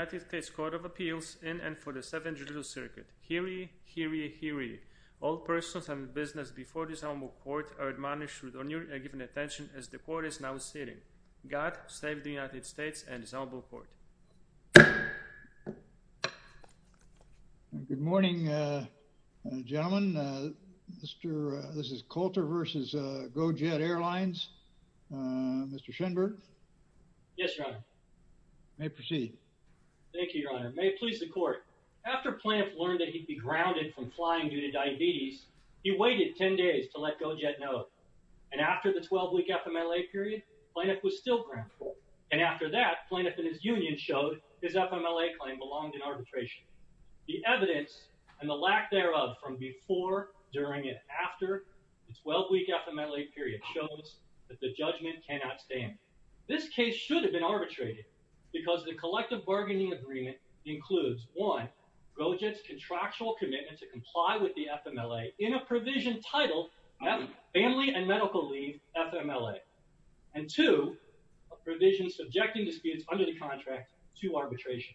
United States Court of Appeals in and for the Seventh Judicial Circuit. Hear ye, hear ye, hear ye. All persons and business before this honorable court are admonished with honor and given attention as the court is now sitting. God save the United States and this honorable court. Good morning, gentlemen. This is Cloutier v. GoJet Airlines. Mr. Schenberg? Yes, Your Honor. You may proceed. Thank you, Your Honor. May it please the court. After Plaintiff learned that he'd be grounded from flying due to diabetes, he waited 10 days to let GoJet know. And after the 12-week FMLA period, Plaintiff was still grounded. And after that, Plaintiff and his union showed his FMLA claim belonged in arbitration. The evidence and the lack thereof from before, during, and after the 12-week FMLA period shows that the judgment cannot stand. This case should have been arbitrated because the collective bargaining agreement includes, one, GoJet's contractual commitment to comply with the FMLA in a provision titled Family and Medical Leave FMLA. And two, a provision subjecting disputes under the contract to arbitration.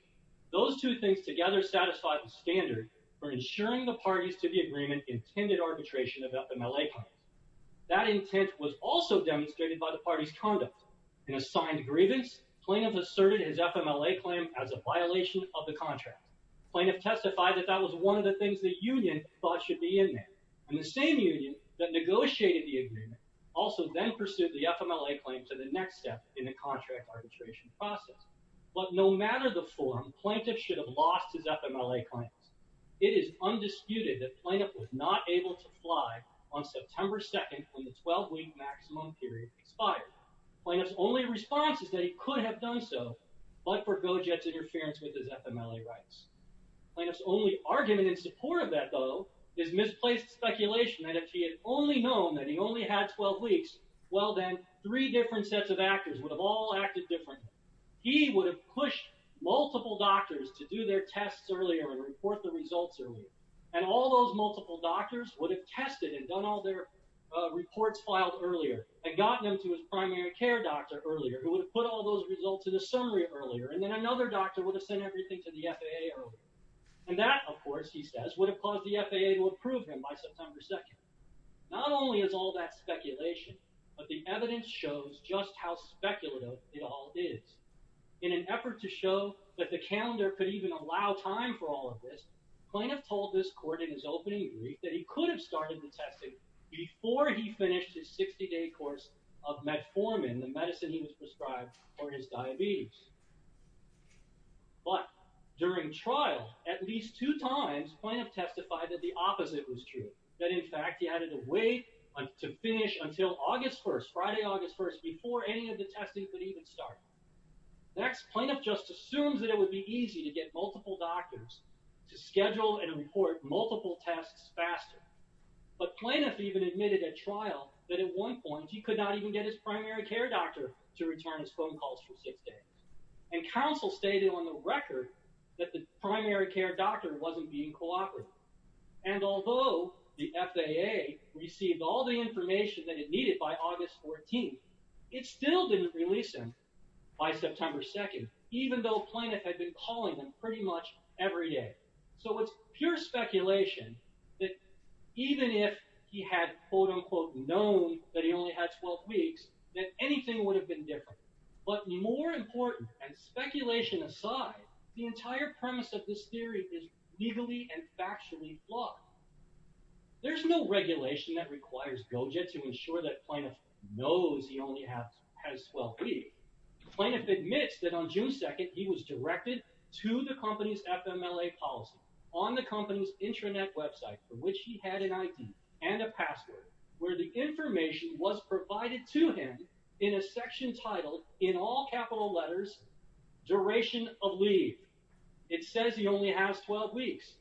Those two things together satisfy the standard for ensuring the parties to the agreement intended arbitration of FMLA claims. That intent was also demonstrated by the party's conduct. In assigned grievance, Plaintiff asserted his FMLA claim as a violation of the contract. Plaintiff testified that that was one of the things the union thought should be in there. And the same union that negotiated the agreement also then pursued the FMLA claim to the next step in the contract arbitration process. But no matter the form, Plaintiff should have lost his FMLA claims. It is undisputed that Plaintiff was not able to fly on September 2nd when the 12-week maximum period expired. Plaintiff's only response is that he could have done so, but for GoJet's interference with his FMLA rights. Plaintiff's only argument in support of that, though, is misplaced speculation that if he had only known that he only had 12 weeks, well then, three different sets of actors would have all acted differently. He would have pushed multiple doctors to do their tests earlier and report the results earlier. And all those multiple doctors would have tested and done all their reports filed earlier and gotten them to his primary care doctor earlier, who would have put all those results in a summary earlier. And then another doctor would have sent everything to the FAA earlier. And that, of course, he says, would have caused the FAA to approve him by September 2nd. Not only is all that speculation, but the evidence shows just how speculative it all is. In an effort to show that the calendar could even allow time for all of this, plaintiff told this court in his opening brief that he could have started the testing before he finished his 60-day course of metformin, the medicine he was prescribed for his diabetes. But during trial, at least two times, plaintiff testified that the opposite was true. That, in fact, he had to wait to finish until August 1st, Friday, August 1st, before any of the testing could even start. Next, plaintiff just assumes that it would be easy to get multiple doctors to schedule and report multiple tests faster. But plaintiff even admitted at trial that at one point, he could not even get his primary care doctor to return his phone calls for six days. And counsel stated on the record that the primary care doctor wasn't being cooperative. And although the FAA received all the information that it needed by August 14th, it still didn't release him by September 2nd, even though plaintiff had been calling him pretty much every day. So it's pure speculation that even if he had, quote-unquote, known that he only had 12 weeks, that anything would have been different. But more important, and speculation aside, the entire premise of this theory is legally and factually flawed. There's no regulation that requires GoJet to ensure that plaintiff knows he only has 12 weeks. Plaintiff admits that on June 2nd, he was directed to the company's FMLA policy on the company's intranet website, for which he had an ID and a password, where the information was provided to him in a section titled, in all capital letters, DURATION OF LEAVE. It says he only has 12 weeks.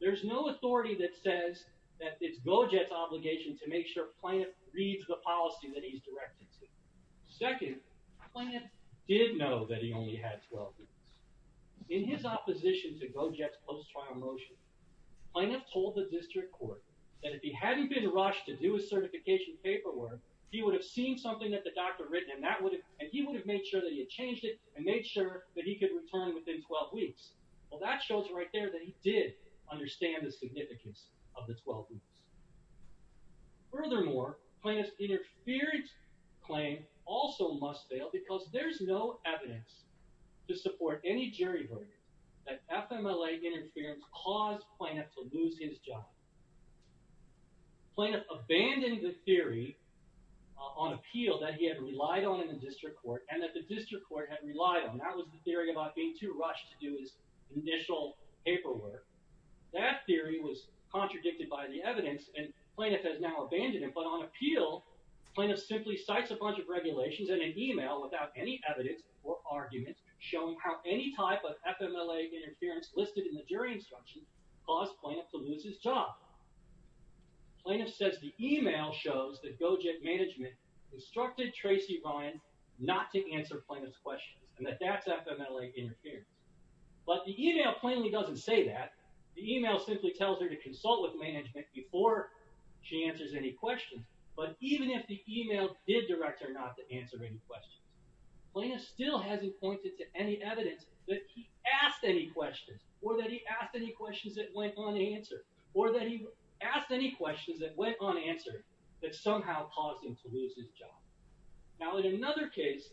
There's no authority that says that it's GoJet's obligation to make sure plaintiff reads the policy that he's directed to. Second, plaintiff did know that he only had 12 weeks. In his opposition to GoJet's post-trial motion, plaintiff told the district court that if he hadn't been rushed to do his certification paperwork, he would have seen something that the doctor had written, and that would have, and he would have made sure that he had changed it, and made sure that he could return within 12 weeks. Well, that shows right there that he did understand the significance of the 12 weeks. Furthermore, plaintiff's interference claim also must fail because there's no evidence to support any jury verdict that FMLA interference caused plaintiff to lose his job. Plaintiff abandoned the theory on appeal that he had relied on in the district court, and that the district court had relied on. That was the theory about being too rushed to do his initial paperwork. That theory was contradicted by the evidence, and plaintiff has now abandoned it. But on appeal, plaintiff simply cites a bunch of regulations in an email without any evidence or argument showing how any type of FMLA interference listed in the jury instruction caused plaintiff to lose his job. Plaintiff says the email shows that GoJet management instructed Tracy Ryan not to answer plaintiff's questions, and that that's FMLA interference. But the email plainly doesn't say that. The email simply tells her to consult with management before she answers any questions. But even if the email did direct her not to answer any questions, plaintiff still hasn't pointed to any evidence that he asked any questions, or that he asked any questions that went unanswered, or that he asked any questions that went unanswered that somehow caused him to lose his job. Now, in another case,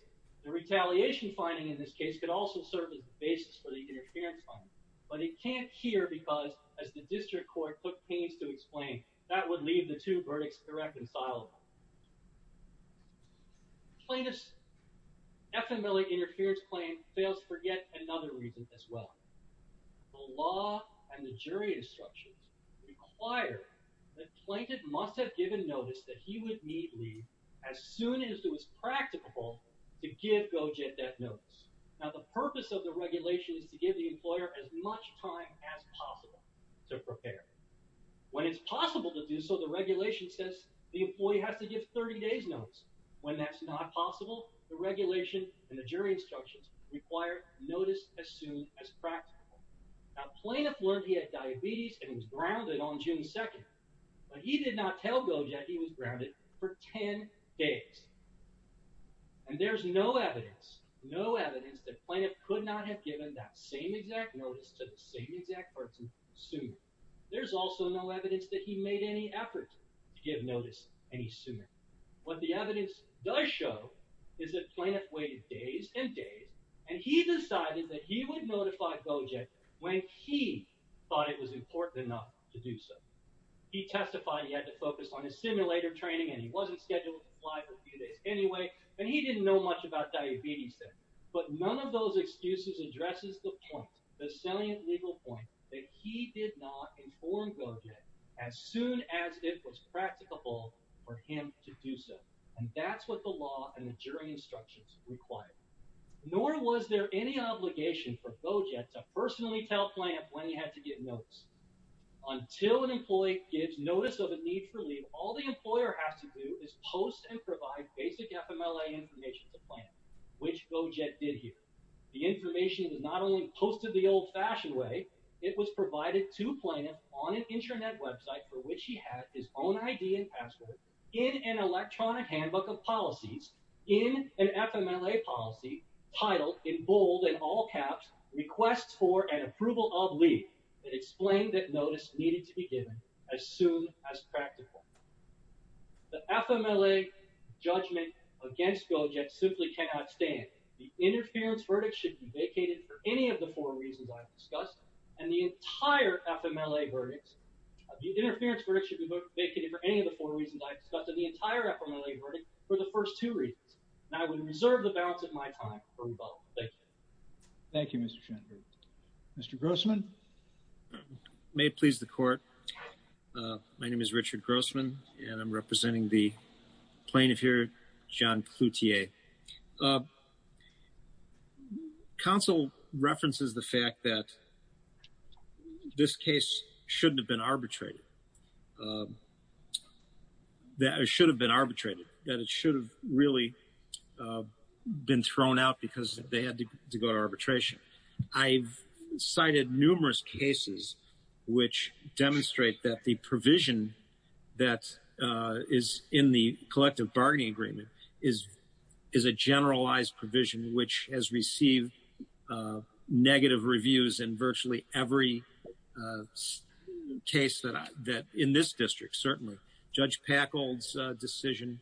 the retaliation finding in this case could also serve as the basis for the interference finding, but it can't here because, as the district court took pains to explain, that would leave the two verdicts irreconcilable. Plaintiff's FMLA interference claim fails for yet another reason as well. The law and the jury instructions require that plaintiff must have given notice that he would need leave as soon as it was practicable to give GoJet that notice. Now, the purpose of the regulation is to give the employer as much time as possible to prepare. When it's possible to do so, the regulation says the employee has to give 30 days notice. When that's not possible, the regulation and the jury instructions require notice as soon as practicable. Now, plaintiff learned he had diabetes and was grounded on June 2nd, but he did not tell GoJet he was grounded for 10 days. And there's no evidence, no evidence that plaintiff could not have given that same exact notice to the same exact person soon. There's also no evidence that he made any effort to give notice any sooner. What the evidence does show is that plaintiff waited days and days, and he decided that he would notify GoJet when he thought it was important enough to do so. He testified he had to focus on his simulator training, and he wasn't scheduled to fly for a few days anyway, and he didn't know much about diabetes then. But none of those excuses addresses the point, the salient legal point, that he did not inform GoJet as soon as it was practicable for him to do so. And that's what the law and the jury instructions require. Nor was there any obligation for GoJet to personally tell plaintiff when he had to get notice. Until an employee gives notice of a need for leave, all the employer has to do is post and provide basic FMLA information to plaintiff, which GoJet did here. The information was not only posted the old-fashioned way, it was provided to plaintiff on an intranet website, for which he had his own ID and password, in an electronic handbook of policies, in an FMLA policy, titled in bold and all caps, REQUESTS FOR AND APPROVAL OF LEAVE, that explained that notice needed to be given as soon as practical. The FMLA judgment against GoJet simply cannot stand. The interference verdict should be vacated for any of the four reasons I've discussed, and the entire FMLA verdict should be vacated for any of the four reasons I've discussed, and the entire FMLA verdict for the first two reasons. And I would reserve the balance of my time for rebuttal. Thank you. Thank you, Mr. Shenberg. Mr. Grossman? May it please the Court. My name is Richard Grossman, and I'm representing the plaintiff here, John Cloutier. Counsel references the fact that this case shouldn't have been arbitrated, that it should have been arbitrated, that it should have really been thrown out because they had to go to arbitration. I've cited numerous cases which demonstrate that the provision that is in the collective bargaining agreement is a generalized provision which has received negative reviews in virtually every case in this district, certainly. Judge Packold's decision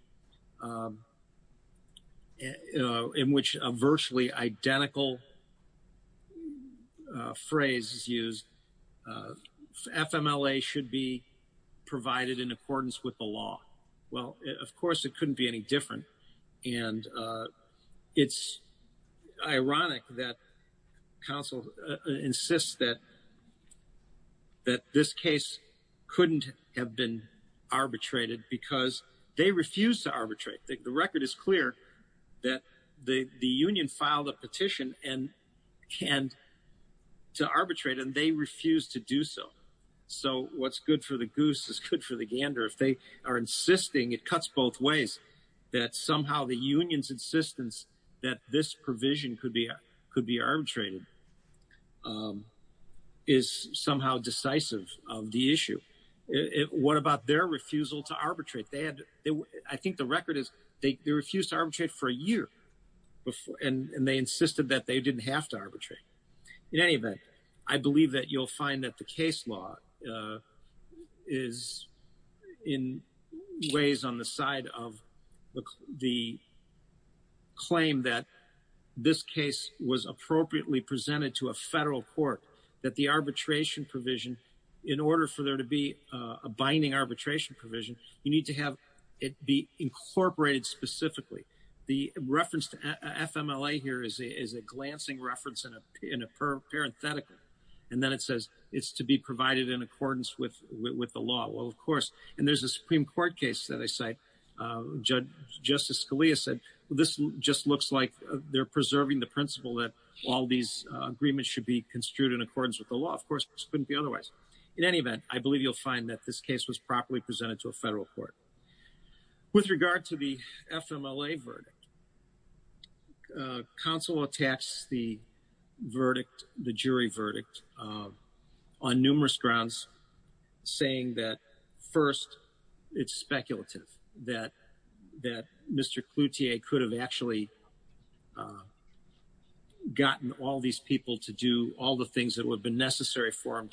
in which a virtually identical phrase is used, FMLA should be provided in accordance with the law. Well, of course, it couldn't be any different. And it's ironic that counsel insists that this case couldn't have been arbitrated because they refused to arbitrate. The record is clear that the union filed a petition to arbitrate, and they refused to do so. So what's good for the goose is good for the gander. If they are insisting, it cuts both ways, that somehow the union's insistence that this provision could be arbitrated is somehow decisive of the issue. What about their refusal to arbitrate? I think the record is they refused to arbitrate for a year, and they insisted that they didn't have to arbitrate. In any event, I believe that you'll find that the case law is in ways on the side of the claim that this case was appropriately presented to a federal court, that the arbitration provision, in order for there to be a binding arbitration provision, you need to have it be incorporated specifically. The reference to FMLA here is a glancing reference in a parenthetical, and then it says it's to be provided in accordance with the law. Well, of course, and there's a Supreme Court case that I cite. Justice Scalia said this just looks like they're preserving the principle that all these agreements should be construed in accordance with the law. Of course, this couldn't be otherwise. In any event, I believe you'll find that this case was properly presented to a federal court. With regard to the FMLA verdict, counsel attacks the jury verdict on numerous grounds, saying that, first, it's speculative, that Mr. Cloutier could have actually gotten all these people to do all the things that would have been necessary for him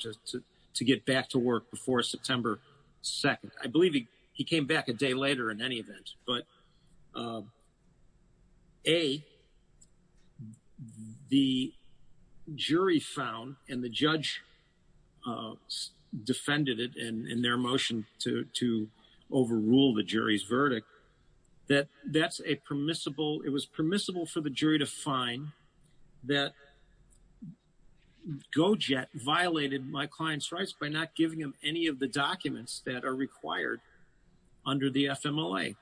to get back to work before September 2nd. I believe he came back a day later, in any event. But, A, the jury found, and the judge defended it in their motion to overrule the jury's verdict, that that's a permissible, it was permissible for the jury to find that Go-Jet violated my client's rights by not giving him any of the documents that are required under the FMLA.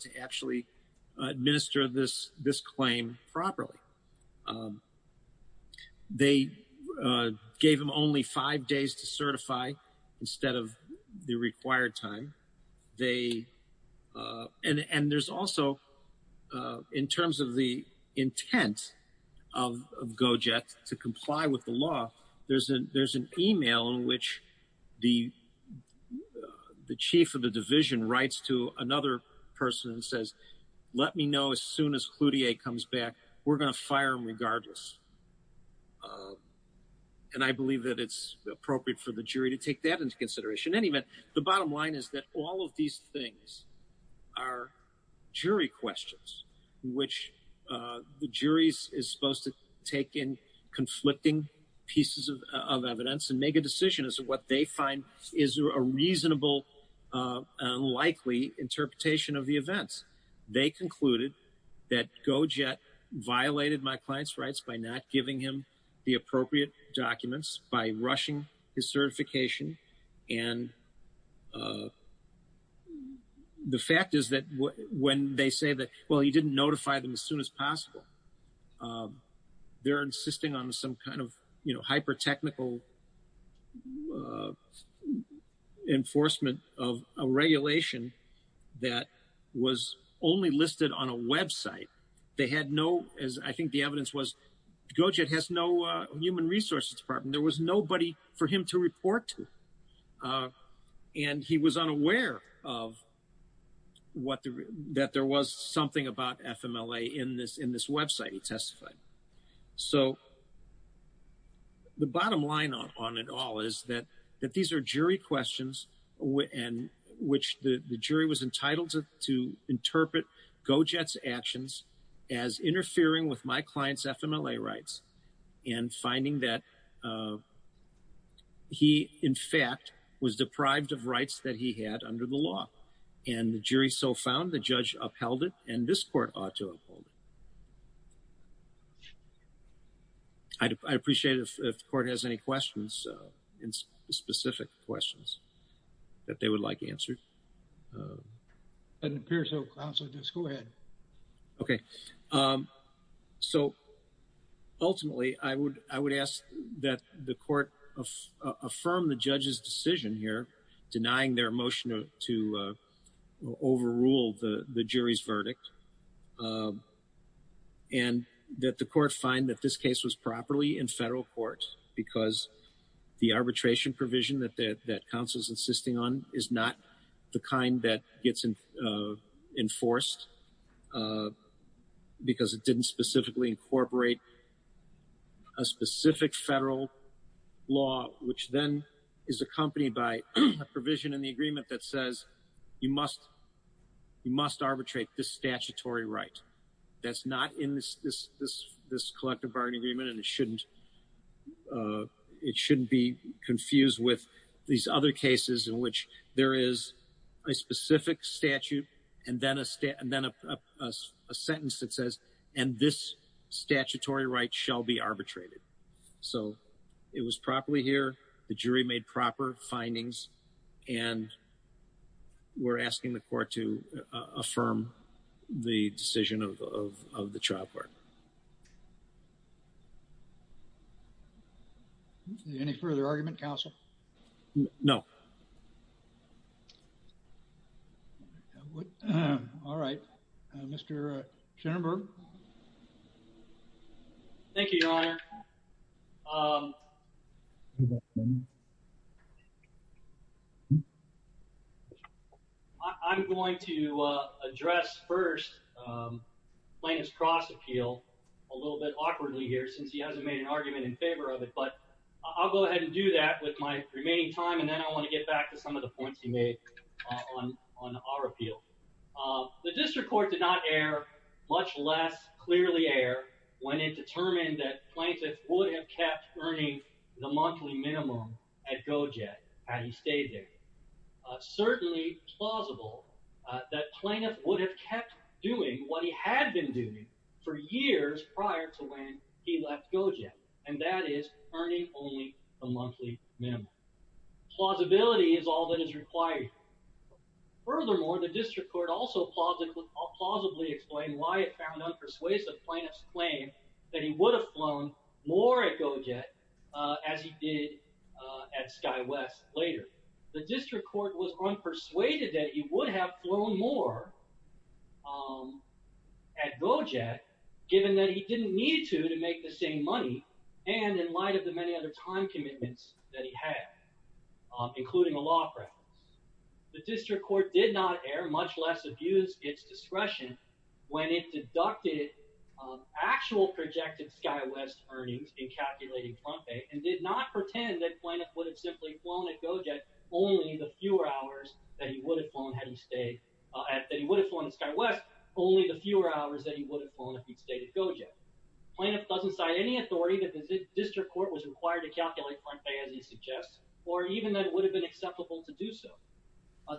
to actually administer this claim properly. They gave him only five days to certify instead of the required time. And there's also, in terms of the intent of Go-Jet to comply with the law, there's an email in which the chief of the division writes to another person and says, let me know as soon as Cloutier comes back. We're going to fire him regardless. And I believe that it's appropriate for the jury to take that into consideration. In any event, the bottom line is that all of these things are jury questions, which the jury is supposed to take in conflicting pieces of evidence and make a decision as to what they find is a reasonable and likely interpretation of the events. They concluded that Go-Jet violated my client's rights by not giving him the appropriate documents, by rushing his certification. And the fact is that when they say that, well, he didn't notify them as soon as possible, they're insisting on some kind of hyper-technical enforcement of a regulation that was only listed on a website. They had no, as I think the evidence was, Go-Jet has no human resources department. And there was nobody for him to report to. And he was unaware of that there was something about FMLA in this website he testified. So the bottom line on it all is that these are jury questions in which the jury was entitled to interpret Go-Jet's actions as interfering with my client's FMLA rights and finding that he, in fact, was deprived of rights that he had under the law. And the jury so found the judge upheld it and this court ought to uphold it. I'd appreciate it if the court has any questions, specific questions that they would like answered. It appears so. Counsel, just go ahead. Okay. So ultimately, I would ask that the court affirm the judge's decision here denying their motion to overrule the jury's verdict and that the court find that this case was properly in federal court because the arbitration provision that counsel's insisting on is not the kind that gets enforced because it didn't specifically incorporate a specific federal law which then is accompanied by a provision in the agreement that says you must arbitrate this statutory right. That's not in this collective bargaining agreement and it shouldn't be confused with these other cases in which there is a specific statute and then a sentence that says and this statutory right shall be arbitrated. So it was properly here. The jury made proper findings and we're asking the court to affirm the decision of the trial court. Any further argument, counsel? No. All right. Mr. Cherenberg. Thank you, Your Honor. I'm going to address first Plaintiff's cross appeal a little bit awkwardly here since he hasn't made an argument in favor of it but I'll go ahead and do that with my remaining time and then I want to get back to some of the points he made on our appeal. The district court did not err much less clearly err when it determined that Plaintiff would have kept earning the monthly minimum at GOJED had he stayed there. Certainly plausible that Plaintiff would have kept doing what he had been doing for years prior to when he left GOJED and that is earning only the monthly minimum. Plausibility is all that is required. Furthermore, the district court also plausibly explained why it found unpersuasive Plaintiff's claim that he would have flown more at GOJED as he did at SkyWest later. The district court was unpersuaded that he would have flown more at GOJED given that he didn't need to to make the same money and in light of the many other time commitments that he had including a law preference. The district court did not err much less abuse its discretion when it deducted actual projected SkyWest earnings in calculating Plum Bay and did not pretend that Plaintiff would have simply flown at GOJED only the fewer hours that he would have flown at SkyWest only the fewer hours that he would have flown if he stayed at GOJED. Plaintiff doesn't cite any authority that the district court was required to calculate Plum Bay as he suggests or even that it would have been acceptable to do so.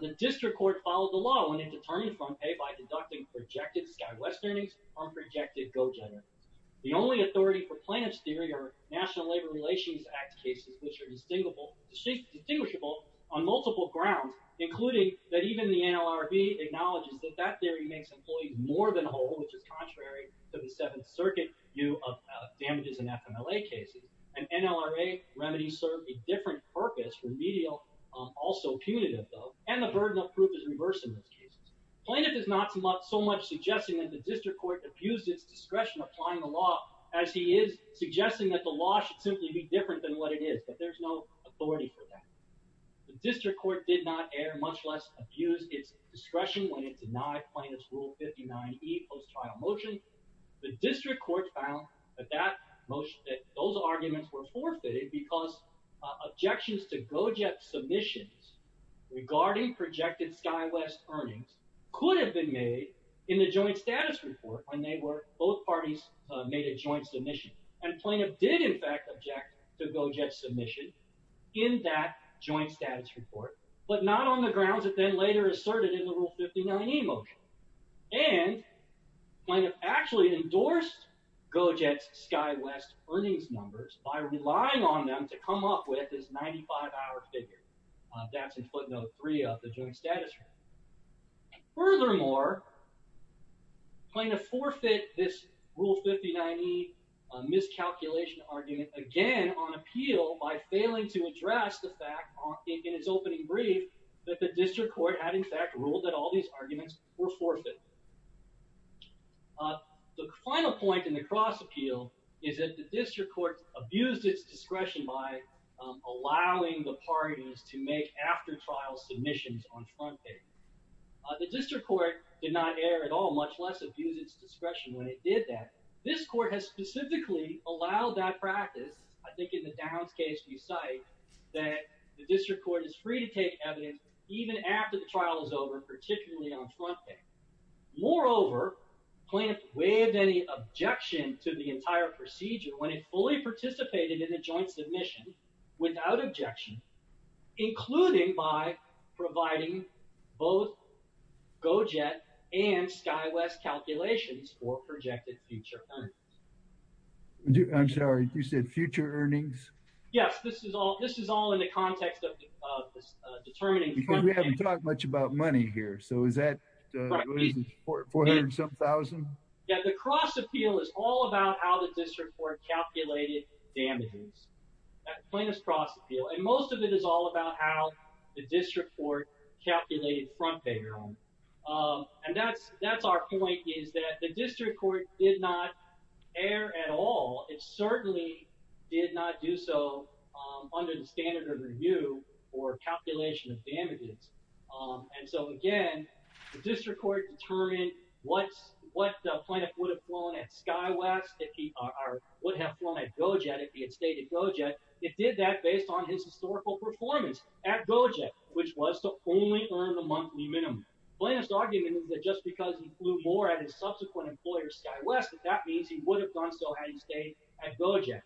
The district court followed the law when it determined Plum Bay by deducting projected SkyWest earnings from projected GOJED earnings. The only authority for Plaintiff's theory are National Labor Relations Act cases which are distinguishable on multiple grounds including that even the NLRB acknowledges that that theory makes employees more than whole which is contrary to the Seventh Circuit view of damages in FMLA cases and NLRA remedies serve a different purpose, remedial, also punitive though and the burden of proof is reversed in those cases. Plaintiff is not so much suggesting that the district court abused its discretion applying the law as he is suggesting that the law should simply be different than what it is but there's no authority for that. The district court did not err much less abuse its discretion when it denied Plaintiff's Rule 59E post-trial motion. The district court found that those arguments were forfeited because objections to GOJED submissions regarding projected SkyWest earnings could have been made in the joint status report when both parties made a joint submission and Plaintiff did in fact object to GOJED submission in that joint status report but not on the grounds that then later asserted in the Rule 59E motion and Plaintiff actually endorsed GOJED's SkyWest earnings numbers by relying on them to come up with this 95-hour figure that's in footnote 3 of the joint status report. Furthermore, Plaintiff forfeit this Rule 59E miscalculation argument again on appeal by failing to address the fact in its opening brief that the district court had in fact ruled that all these arguments were forfeited. The final point in the cross-appeal is that the district court abused its discretion by allowing the parties to make after-trial submissions on front page. The district court did not err at all much less abuse its discretion when it did that. This court has specifically allowed that practice, I think in the Downs case we cite, that the district court is free to take evidence even after the trial is over, particularly on front page. Moreover, Plaintiff waived any objection to the entire procedure when it fully participated in a joint submission without objection, including by providing both GOJED and SkyWest calculations for projected future earnings. I'm sorry, you said future earnings? Yes, this is all in the context of determining future earnings. We haven't talked much about money here, so is that $400,000-something? Yeah, the cross-appeal is all about how the district court calculated damages. Plaintiff's cross-appeal. And most of it is all about how the district court calculated front-page earnings. And that's our point, is that the district court did not err at all. It certainly did not do so under the standard of review or calculation of damages. And so, again, the district court determined what Plaintiff would have flown at SkyWest or would have flown at GOJED if he had stayed at GOJED. It did that based on his historical performance at GOJED, which was to only earn the monthly minimum. Plaintiff's argument is that just because he flew more at his subsequent employer, SkyWest, that that means he would have done so had he stayed at GOJED.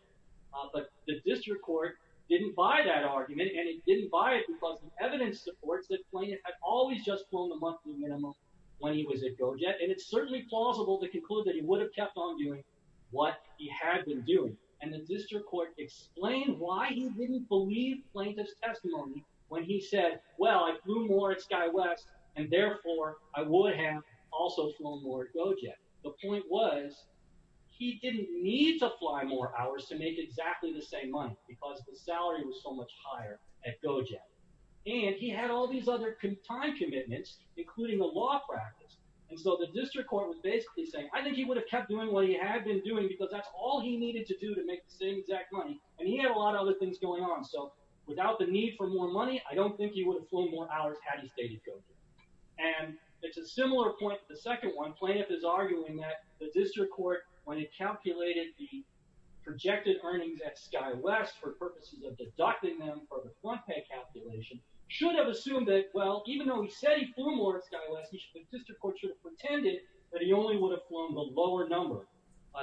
But the district court didn't buy that argument, and it didn't buy it because the evidence supports that Plaintiff had always just flown the monthly minimum when he was at GOJED. And it's certainly plausible to conclude that he would have kept on doing what he had been doing. And the district court explained why he didn't believe Plaintiff's testimony when he said, well, I flew more at SkyWest, and therefore I would have also flown more at GOJED. The point was he didn't need to fly more hours to make exactly the same money because the salary was so much higher at GOJED. And he had all these other time commitments, including a law practice. And so the district court was basically saying, I think he would have kept doing what he had been doing because that's all he needed to do to make the same exact money. And he had a lot of other things going on. So without the need for more money, I don't think he would have flown more hours had he stayed at GOJED. And it's a similar point to the second one. Plaintiff is arguing that the district court, when it calculated the projected earnings at SkyWest for purposes of deducting them for the front pay calculation, should have assumed that, well, even though he said he flew more at SkyWest, the district court should have pretended that he only would have flown the lower number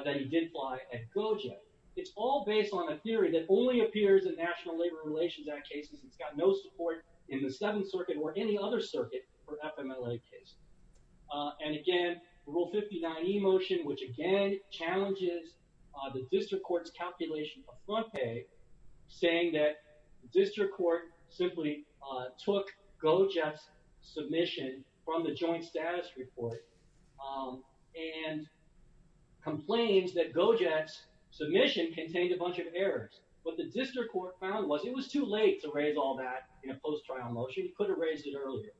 than he did fly at GOJED. It's all based on a theory that only appears in National Labor Relations Act cases. It's got no support in the Seventh Circuit or any other circuit for FMLA cases. And again, Rule 59E motion, which again challenges the district court's calculation of front pay, saying that the district court simply took GOJED's submission from the joint status report and complains that GOJED's submission contained a bunch of errors. What the district court found was it was too late to raise all that in a post-trial motion. He could have raised it earlier.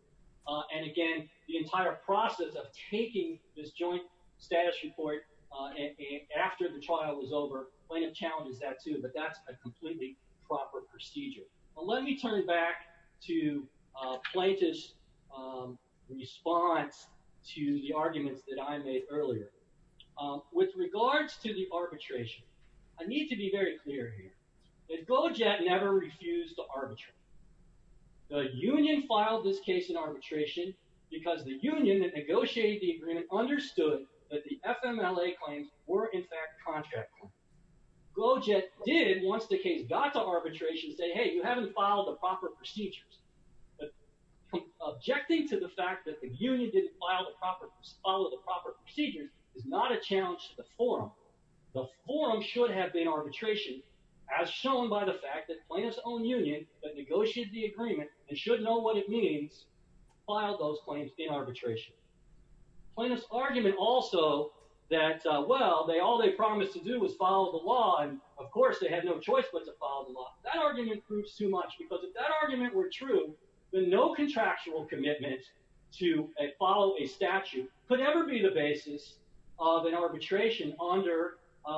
And again, the entire process of taking this joint status report after the trial was over, plaintiff challenges that too, but that's a completely proper procedure. Well, let me turn back to Plaintiff's response to the arguments that I made earlier. With regards to the arbitration, I need to be very clear here that GOJED never refused to arbitrate. The union filed this case in arbitration because the union that negotiated the agreement understood that the FMLA claims were in fact contractual. GOJED did, once the case got to arbitration, say, hey, you haven't filed the proper procedures. But objecting to the fact that the union didn't file the proper, follow the proper procedures is not a challenge to the forum. The forum should have been arbitration as shown by the fact that Plaintiff's own union that negotiated the agreement and should know what it means filed those claims in arbitration. Plaintiff's argument also that, well, all they promised to do was follow the law, and of course they had no choice but to follow the law. That argument proves too much because if that argument were true, then no contractual commitment to follow a statute could ever be the basis of an arbitration under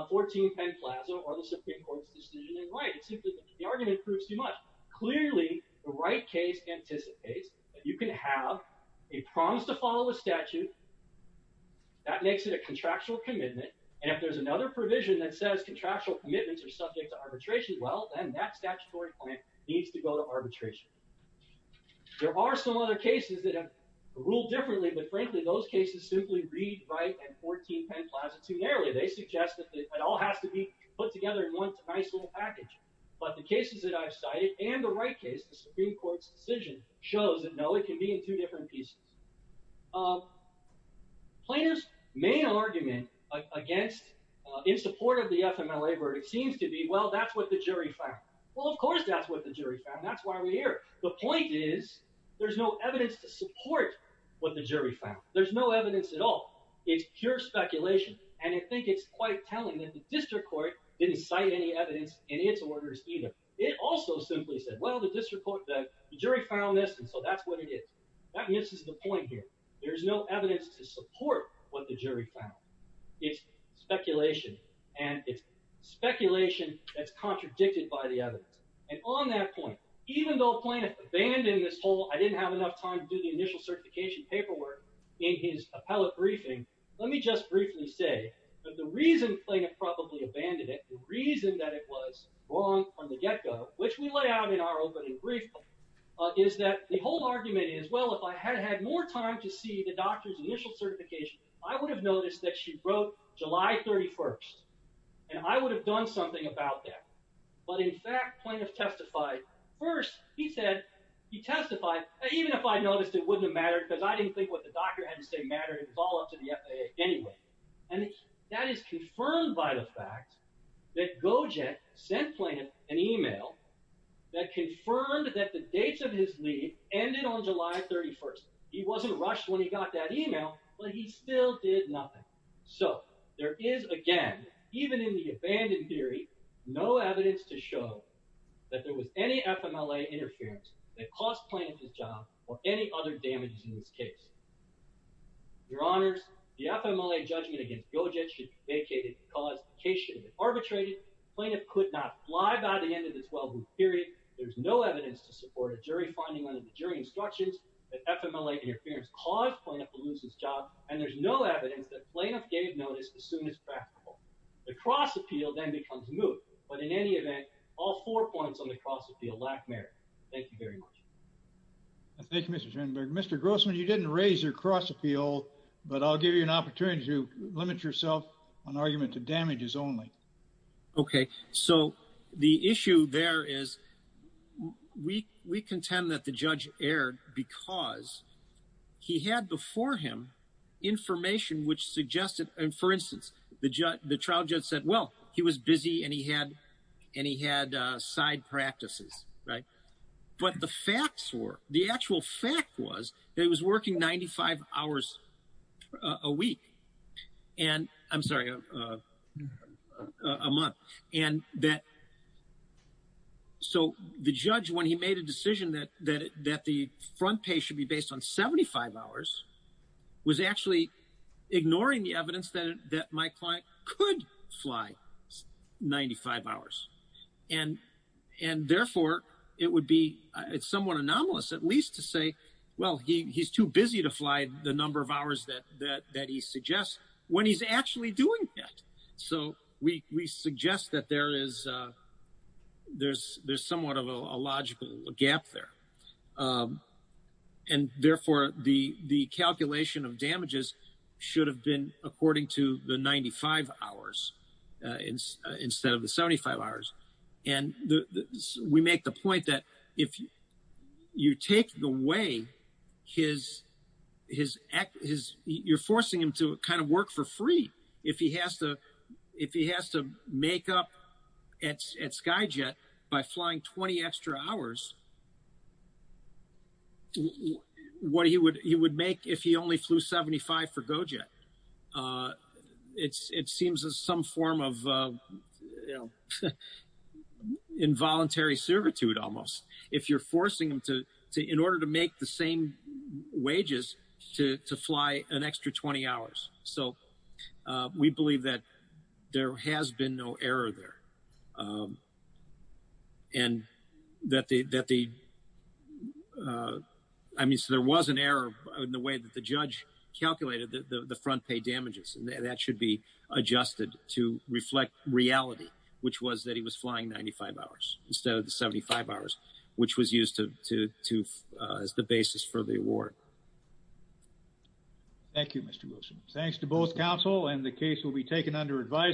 14 Penn Plaza or the Supreme Court's decision in writing. The argument proves too much. Clearly the right case anticipates that you can have a promise to follow a statute. That makes it a contractual commitment. And if there's another provision that says contractual commitments are subject to arbitration, well, then that statutory plan needs to go to arbitration. There are some other cases that have ruled differently, but frankly, those cases simply read right and 14 Penn Plaza too narrowly. They suggest that it all has to be put together in one nice little package. But the cases that I've cited and the right case, the Supreme Court's decision shows that no, it can be in two different pieces. Plaintiff's main argument against, in support of the FMLA verdict, it seems to be, well, that's what the jury found. Well, of course that's what the jury found. That's why we're here. The point is there's no evidence to support what the jury found. There's no evidence at all. It's pure speculation. And I think it's quite telling that the district court didn't cite any evidence in its orders either. It also simply said, well, the district court, the jury found this. And so that's what it is. That misses the point here. There's no evidence to support what the jury found. It's speculation. And it's speculation that's contradicted by the evidence. And on that point, even though Plaintiff abandoned this whole, I didn't have enough time to do the initial certification paperwork in his appellate briefing. Let me just briefly say that the reason Plaintiff probably abandoned it, the reason that it was wrong from the get-go, which we lay out in our opening brief, is that the whole argument is, well, if I had had more time to see the doctor's initial certification, I would have noticed that she wrote July 31st. And I would have done something about that. But in fact, Plaintiff testified first. He said, he testified, even if I noticed it wouldn't have mattered because I didn't think what the doctor had to say mattered. It was all up to the FAA anyway. And that is confirmed by the fact that Gojek sent Plaintiff an email that confirmed that the dates of his leave ended on July 31st. He wasn't rushed when he got that email, but he still did nothing. So there is again, even in the abandoned theory, no evidence to show that there was any FMLA interference that cost Plaintiff his job or any other damages in this case. Your honors, the FMLA judgment against Gojek should be vacated because the case should have been arbitrated. Plaintiff could not fly by the end of the 12-week period. There's no evidence to support a jury finding under the jury instructions that FMLA interference caused Plaintiff to lose his job. And there's no evidence that Plaintiff gave notice as soon as practical. The cross appeal then becomes moot, but in any event, all four points on the cross appeal lack merit. Thank you very much. Thank you, Mr. Schoenberg. Mr. Grossman, you didn't raise your cross appeal, but I'll give you an opportunity to limit yourself on argument to damages only. Okay. So the issue there is we contend that the judge erred because he had before him information which suggested, and for instance, the trial judge said, well, he was busy and he had side practices, right? But the facts were, the actual fact was that he was working 95 hours a week. And I'm sorry, a month. And that, so the judge, when he made a decision that the front page should be based on 75 hours, was actually ignoring the evidence that my client could fly 95 hours. And therefore, it would be somewhat anomalous at least to say, well, he's too busy to fly the number of hours that he suggests when he's actually doing that. So we suggest that there's somewhat of a logical gap there. And therefore, the calculation of damages should have been according to the 95 hours instead of the 75 hours. And we make the point that if you take the way his, you're forcing him to kind of work for free. If he has to make up at SkyJet by flying 20 extra hours, what he would make if he only flew 75 for GoJet? It seems as some form of involuntary servitude almost. If you're forcing him to, in order to make the same wages, to fly an extra 20 hours. So we believe that there has been no error there. And that the, I mean, so there was an error in the way that the judge calculated the front page damages. And that should be adjusted to reflect reality, which was that he was flying 95 hours instead of the 75 hours, which was used as the basis for the award. Thank you, Mr. Wilson. Thanks to both counsel and the case will be taken under advisory.